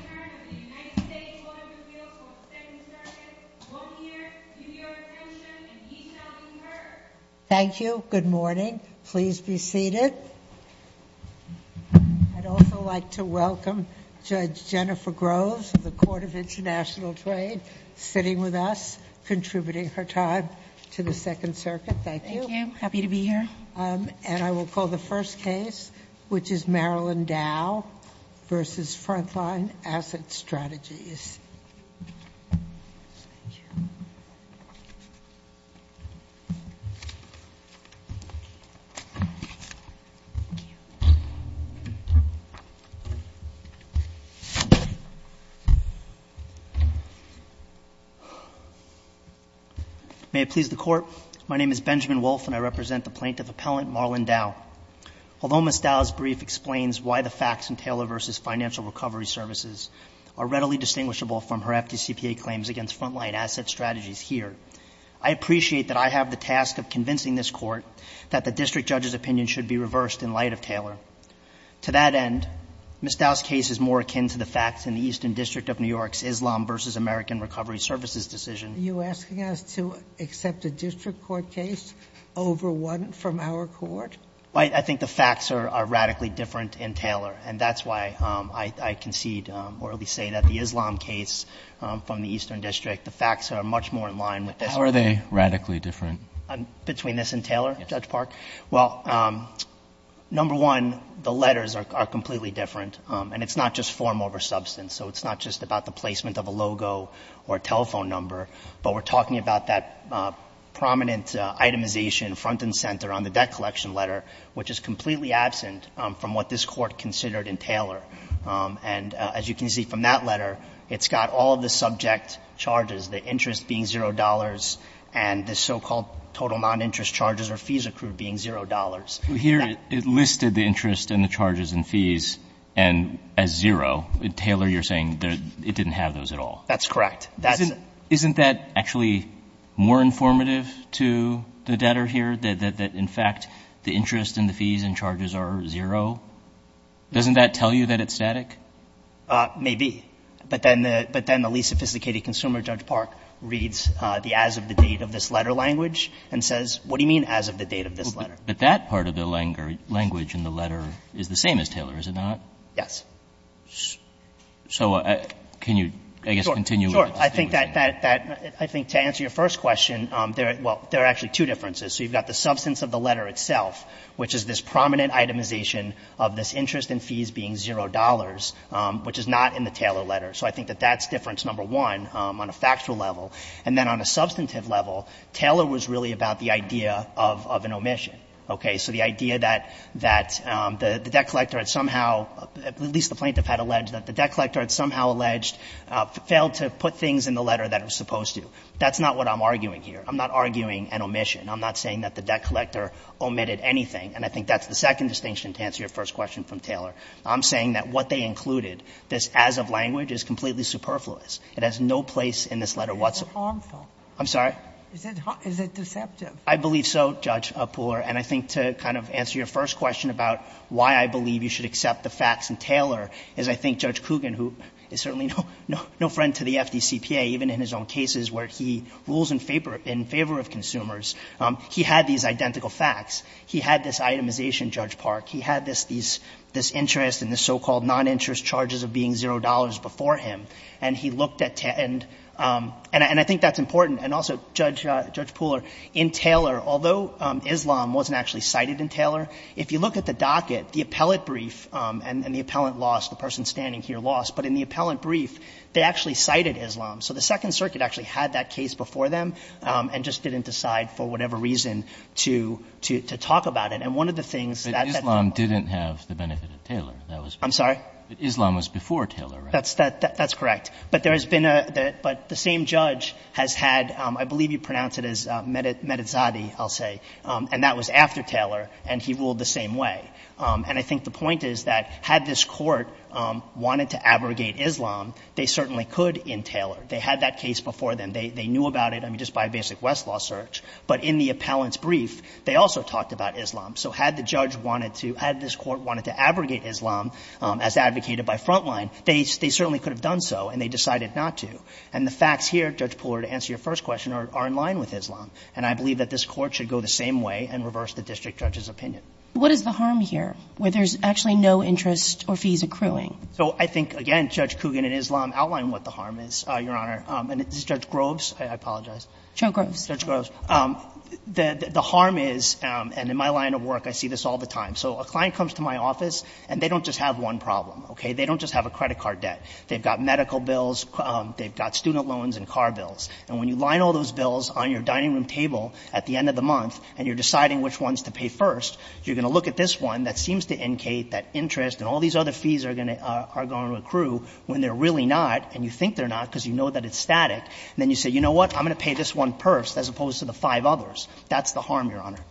I would like to welcome Judge Jennifer Groves of the Court of International Trade, sitting with us, contributing her time to the Second Circuit. Thank you. Thank you. Happy to be here. And I will call the first case, which is Marilyn Dow v. Frontline Asset Strategies. Thank you. Thank you. May it please the Court, my name is Benjamin Wolfe, and I represent the plaintiff appellant, Marilyn Dow. Although Ms. Dow's brief explains why the facts in Taylor v. Financial Recovery Services are readily distinguishable from her FDCPA claims against Frontline Asset Strategies here, I appreciate that I have the task of convincing this Court that the district judge's opinion should be reversed in light of Taylor. To that end, Ms. Dow's case is more akin to the facts in the Eastern District of New York's Islam v. American Recovery Services decision. Are you asking us to accept a district court case over one from our court? I think the facts are radically different in Taylor, and that's why I concede, or at least say that the Islam case from the Eastern District, the facts are much more in line with this one. How are they radically different? Between this and Taylor, Judge Park? Well, number one, the letters are completely different, and it's not just form over substance, so it's not just about the placement of a logo or a telephone number, but we're talking about that prominent itemization front and center on the debt collection letter, which is completely absent from what this Court considered in Taylor. And as you can see from that letter, it's got all of the subject charges, the interest being $0 and the so-called total non-interest charges or fees accrued being $0. Well, here it listed the interest and the charges and fees as zero. In Taylor, you're saying it didn't have those at all. That's correct. Isn't that actually more informative to the debtor here, that, in fact, the interest and the fees and charges are zero? Doesn't that tell you that it's static? Maybe. But then the least sophisticated consumer, Judge Park, reads the as of the date of this letter language and says, what do you mean as of the date of this letter? But that part of the language in the letter is the same as Taylor, is it not? Yes. So can you, I guess, continue with the statement? Sure. I think that that to answer your first question, there are actually two differences. So you've got the substance of the letter itself, which is this prominent itemization of this interest and fees being $0, which is not in the Taylor letter. So I think that that's difference number one on a factual level. And then on a substantive level, Taylor was really about the idea of an omission. Okay. So the idea that the debt collector had somehow, at least the plaintiff had alleged that the debt collector had somehow alleged, failed to put things in the letter that it was supposed to. That's not what I'm arguing here. I'm not arguing an omission. I'm not saying that the debt collector omitted anything. And I think that's the second distinction to answer your first question from Taylor. I'm saying that what they included, this as of language, is completely superfluous. It has no place in this letter whatsoever. It's harmful. I'm sorry? Is it deceptive? I believe so, Judge Pooler. And I think to kind of answer your first question about why I believe you should accept the facts in Taylor is I think Judge Kugin, who is certainly no friend to the FDCPA, even in his own cases where he rules in favor of consumers, he had these identical facts. He had this itemization, Judge Park. He had this interest and this so-called noninterest charges of being $0 before him. And he looked at and I think that's important. And also, Judge Pooler, in Taylor, although Islam wasn't actually cited in Taylor, if you look at the docket, the appellate brief and the appellant lost, the person standing here lost, but in the appellant brief, they actually cited Islam. So the Second Circuit actually had that case before them and just didn't decide for whatever reason to talk about it. And one of the things that that did not do. But Islam didn't have the benefit of Taylor. I'm sorry? Islam was before Taylor, right? That's correct. But there has been a – but the same judge has had, I believe you pronounce it as Medizadi, I'll say, and that was after Taylor, and he ruled the same way. And I think the point is that had this Court wanted to abrogate Islam, they certainly could in Taylor. They had that case before them. They knew about it, I mean, just by a basic Westlaw search, but in the appellant's brief, they also talked about Islam. So had the judge wanted to – had this Court wanted to abrogate Islam as advocated by Frontline, they certainly could have done so, and they decided not to. And the facts here, Judge Pooler, to answer your first question, are in line with Islam, and I believe that this Court should go the same way and reverse the district judge's opinion. What is the harm here, where there's actually no interest or fees accruing? So I think, again, Judge Kugin and Islam outline what the harm is, Your Honor. And Judge Groves, I apologize. Joe Groves. Judge Groves. The harm is, and in my line of work I see this all the time. So a client comes to my office and they don't just have one problem, okay? They don't just have a credit card debt. They've got medical bills, they've got student loans and car bills. And when you line all those bills on your dining room table at the end of the month and you're deciding which ones to pay first, you're going to look at this one that seems to incate that interest and all these other fees are going to accrue when they're really not, and you think they're not because you know that it's static, and then you say, you know what, I'm going to pay this one first as opposed to the five others. That's the harm, Your Honor.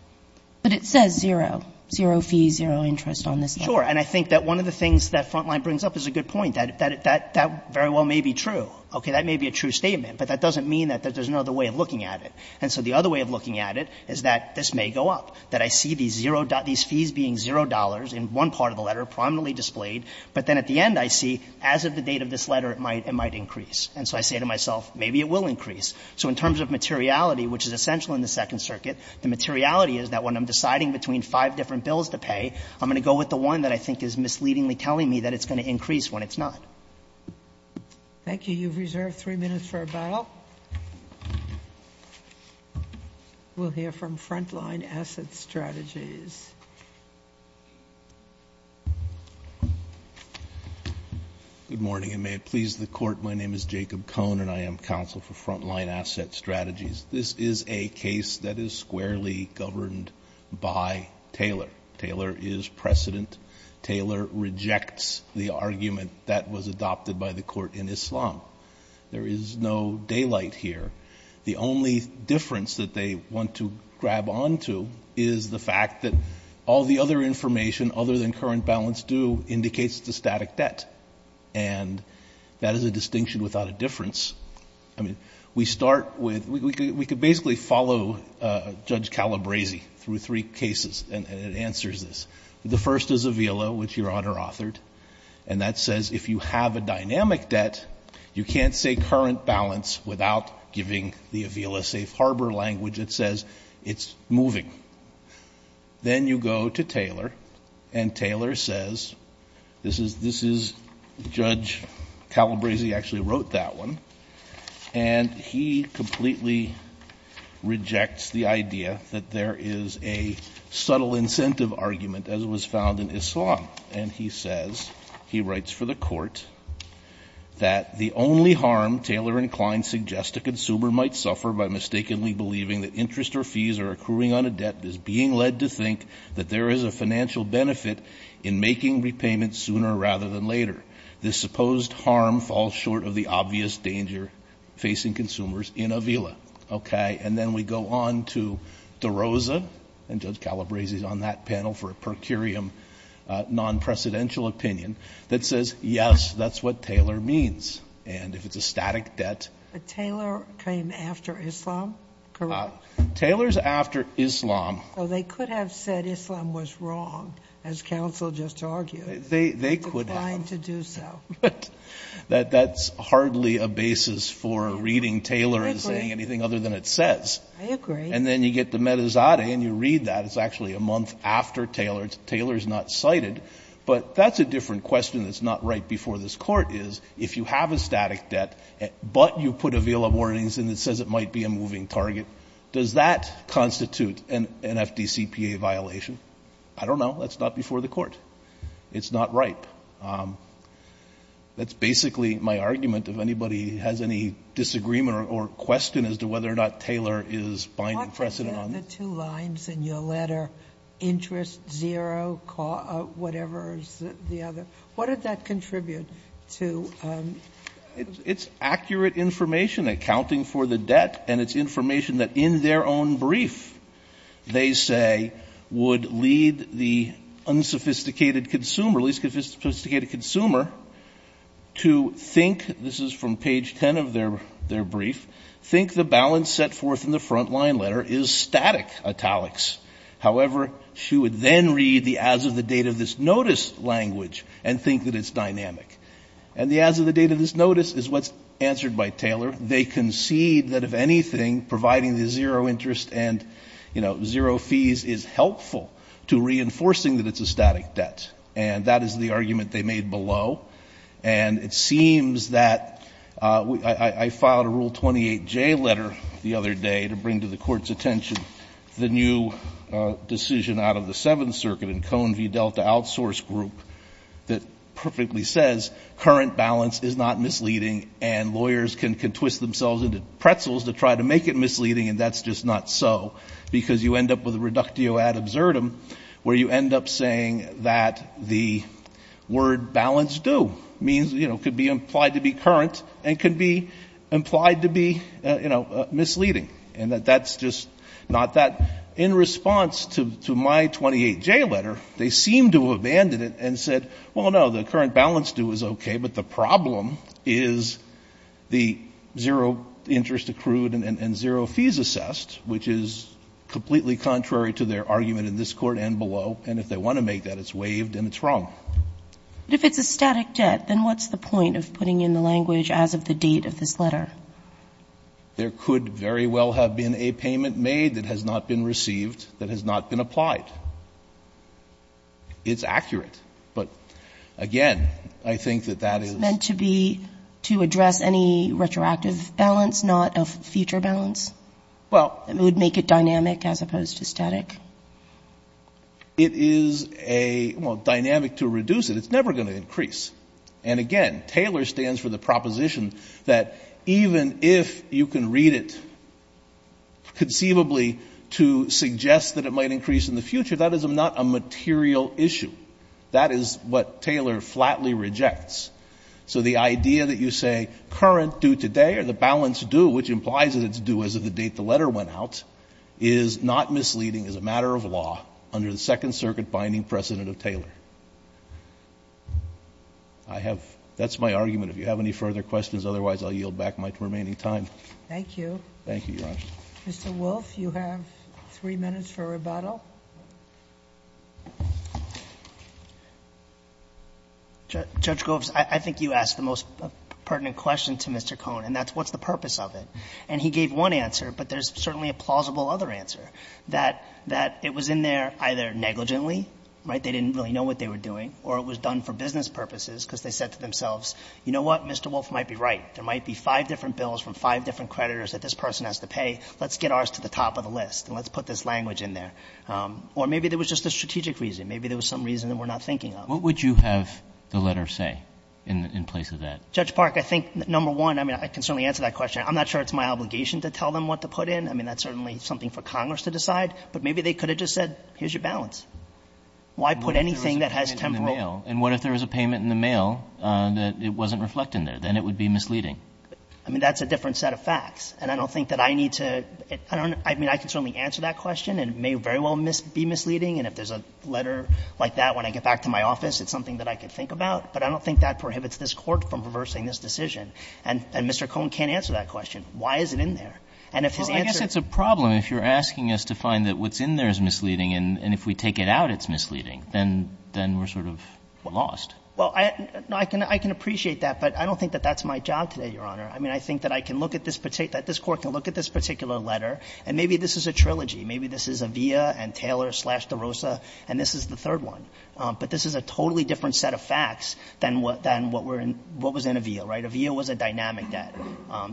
But it says zero, zero fees, zero interest on this one. Sure. And I think that one of the things that Frontline brings up is a good point. That very well may be true, okay? That may be a true statement, but that doesn't mean that there's another way of looking at it. And so the other way of looking at it is that this may go up, that I see these zero fees being zero dollars in one part of the letter prominently displayed, but then at the end I see, as of the date of this letter, it might increase. And so I say to myself, maybe it will increase. So in terms of materiality, which is essential in the Second Circuit, the materiality is that when I'm deciding between five different bills to pay, I'm going to go with the one that I think is misleadingly telling me that it's going to increase when it's not. Thank you. You've reserved three minutes for a bow. We'll hear from Frontline Asset Strategies. Good morning, and may it please the Court. My name is Jacob Cohn, and I am counsel for Frontline Asset Strategies. This is a case that is squarely governed by Taylor. Taylor is precedent. Taylor rejects the argument that was adopted by the Court in Islam. There is no daylight here. The only difference that they want to grab onto is the fact that all the other information, other than current balance due, indicates the static debt. And that is a distinction without a difference. I mean, we start with, we could basically follow Judge Calabresi through three cases, and it answers this. The first is Avila, which Your Honor authored, and that says if you have a dynamic debt, you can't say current balance without giving the Avila safe harbor language. It says it's moving. Then you go to Taylor, and Taylor says, this is, this is, Judge Calabresi actually wrote that one. And he completely rejects the idea that there is a subtle incentive argument, as was found in Islam. And he says, he writes for the Court, that the only harm Taylor and Klein suggest a consumer might suffer by mistakenly believing that interest or fees are accruing on a debt is being led to think that there is a financial benefit in making repayments sooner rather than later. This supposed harm falls short of the obvious danger facing consumers in Avila. Okay? And then we go on to DeRosa, and Judge Calabresi is on that panel for a per curiam non-precedential opinion that says, yes, that's what Taylor means. And if it's a static debt. But Taylor came after Islam, correct? Taylor's after Islam. So they could have said Islam was wrong, as counsel just argued. They, they could have. Trying to do so. But that, that's hardly a basis for reading Taylor and saying anything other than it says. I agree. And then you get to Metazadeh and you read that. It's actually a month after Taylor. Taylor's not cited. But that's a different question that's not right before this Court is, if you have a static debt, but you put Avila warnings and it says it might be a moving target, does that constitute an, an FDCPA violation? I don't know. That's not before the Court. It's not right. That's basically my argument. If anybody has any disagreement or, or question as to whether or not Taylor is binding precedent on this. What are the two lines in your letter, interest zero, whatever is the other? What did that contribute to? It's, it's accurate information accounting for the debt. And it's information that in their own brief, they say, would lead the unsophisticated consumer, least sophisticated consumer to think this is from page 10 of their, their brief, think the balance set forth in the front line letter is static italics. However, she would then read the, as of the date of this notice language and think that it's dynamic. And the, as of the date of this notice is what's answered by Taylor. They concede that if anything, providing the zero interest and, you know, zero fees is helpful to reinforcing that it's a static debt. And that is the argument they made below. And it seems that I filed a rule 28 J letter the other day to bring to the court's attention, the new decision out of the seventh circuit and cone V delta outsource group that perfectly says current balance is not misleading and lawyers can, can twist themselves into pretzels to try to make it misleading. And that's just not so because you end up with a reductio ad absurdum where you end up saying that the word balance do means, you know, could be implied to be current and could be implied to be, you know, misleading. And that that's just not that in response to, to my 28 J letter, they seem to have banded it and said, well, no, the current balance do is okay. But the problem is the zero interest accrued and zero fees assessed, which is completely contrary to their argument in this court and below. And if they want to make that it's waived and it's wrong. But if it's a static debt, then what's the point of putting in the language as of the date of this letter, there could very well have been a payment made that has not been received, that has not been applied. It's accurate. But again, I think that that is meant to be to address any retroactive balance, not a future balance. Well, it would make it dynamic as opposed to static. It is a dynamic to reduce it. It's never going to increase. And again, Taylor stands for the proposition that even if you can read it conceivably to suggest that it might increase in the future, that is not a material issue. That is what Taylor flatly rejects. So the idea that you say current due today or the balance due, which implies that it's due as of the date the letter went out, is not misleading, is a matter of law under the Second Circuit binding precedent of Taylor. I have that's my argument. If you have any further questions, otherwise I'll yield back my remaining time. Thank you. Thank you, Your Honor. Mr. Wolff, you have three minutes for rebuttal. Judge Goves, I think you asked the most pertinent question to Mr. Cohn, and that's what's the purpose of it. And he gave one answer, but there's certainly a plausible other answer, that it was in there either negligently, right, they didn't really know what they were doing, or it was done for business purposes because they said to themselves, you know what, Mr. Wolff might be right, there might be five different bills from five different creditors that this person has to pay, let's get ours to the top of the list and let's put this language in there. Or maybe there was just a strategic reason. Maybe there was some reason that we're not thinking of. What would you have the letter say in place of that? Judge Park, I think, number one, I mean, I can certainly answer that question. I'm not sure it's my obligation to tell them what to put in. I mean, that's certainly something for Congress to decide. But maybe they could have just said, here's your balance. Why put anything that has temporal? And what if there was a payment in the mail that it wasn't reflected in there? Then it would be misleading. I mean, that's a different set of facts. And I don't think that I need to – I mean, I can certainly answer that question and it may very well be misleading. And if there's a letter like that, when I get back to my office, it's something that I could think about. But I don't think that prohibits this Court from reversing this decision. And Mr. Cohn can't answer that question. Why is it in there? And if his answer – Well, I guess it's a problem if you're asking us to find that what's in there is misleading and if we take it out, it's misleading. Then we're sort of lost. Well, I can appreciate that, but I don't think that that's my job today, Your Honor. I mean, I think that I can look at this – that this Court can look at this particular letter, and maybe this is a trilogy. Maybe this is Avea and Taylor slash DeRosa, and this is the third one. But this is a totally different set of facts than what was in Avea, right? Avea was a dynamic debt,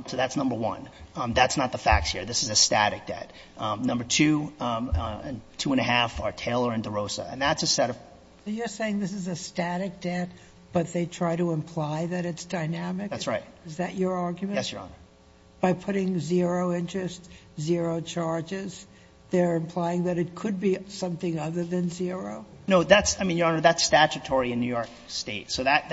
so that's number one. That's not the facts here. This is a static debt. Number two and two and a half are Taylor and DeRosa, and that's a set of – So you're saying this is a static debt, but they try to imply that it's dynamic? That's right. Is that your argument? Yes, Your Honor. By putting zero interest, zero charges, they're implying that it could be something other than zero? No, that's – I mean, Your Honor, that's statutory in New York State. So that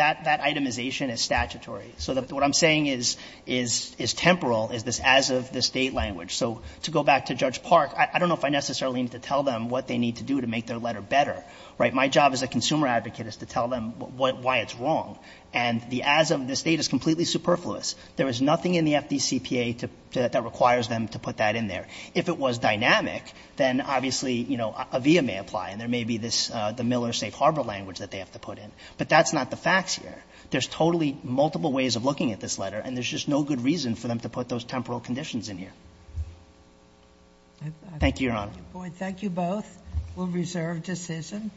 itemization is statutory. So what I'm saying is – is temporal, is this as-of-this-date language. So to go back to Judge Park, I don't know if I necessarily need to tell them what they need to do to make their letter better, right? My job as a consumer advocate is to tell them what – why it's wrong. And the as-of-this-date is completely superfluous. There is nothing in the FDCPA to – that requires them to put that in there. If it was dynamic, then obviously, you know, Avea may apply, and there may be this – the Miller Safe Harbor language that they have to put in. But that's not the facts here. There's totally multiple ways of looking at this letter, and there's just no good reason for them to put those temporal conditions in here. Thank you, Your Honor. I thank you both. We'll reserve decision.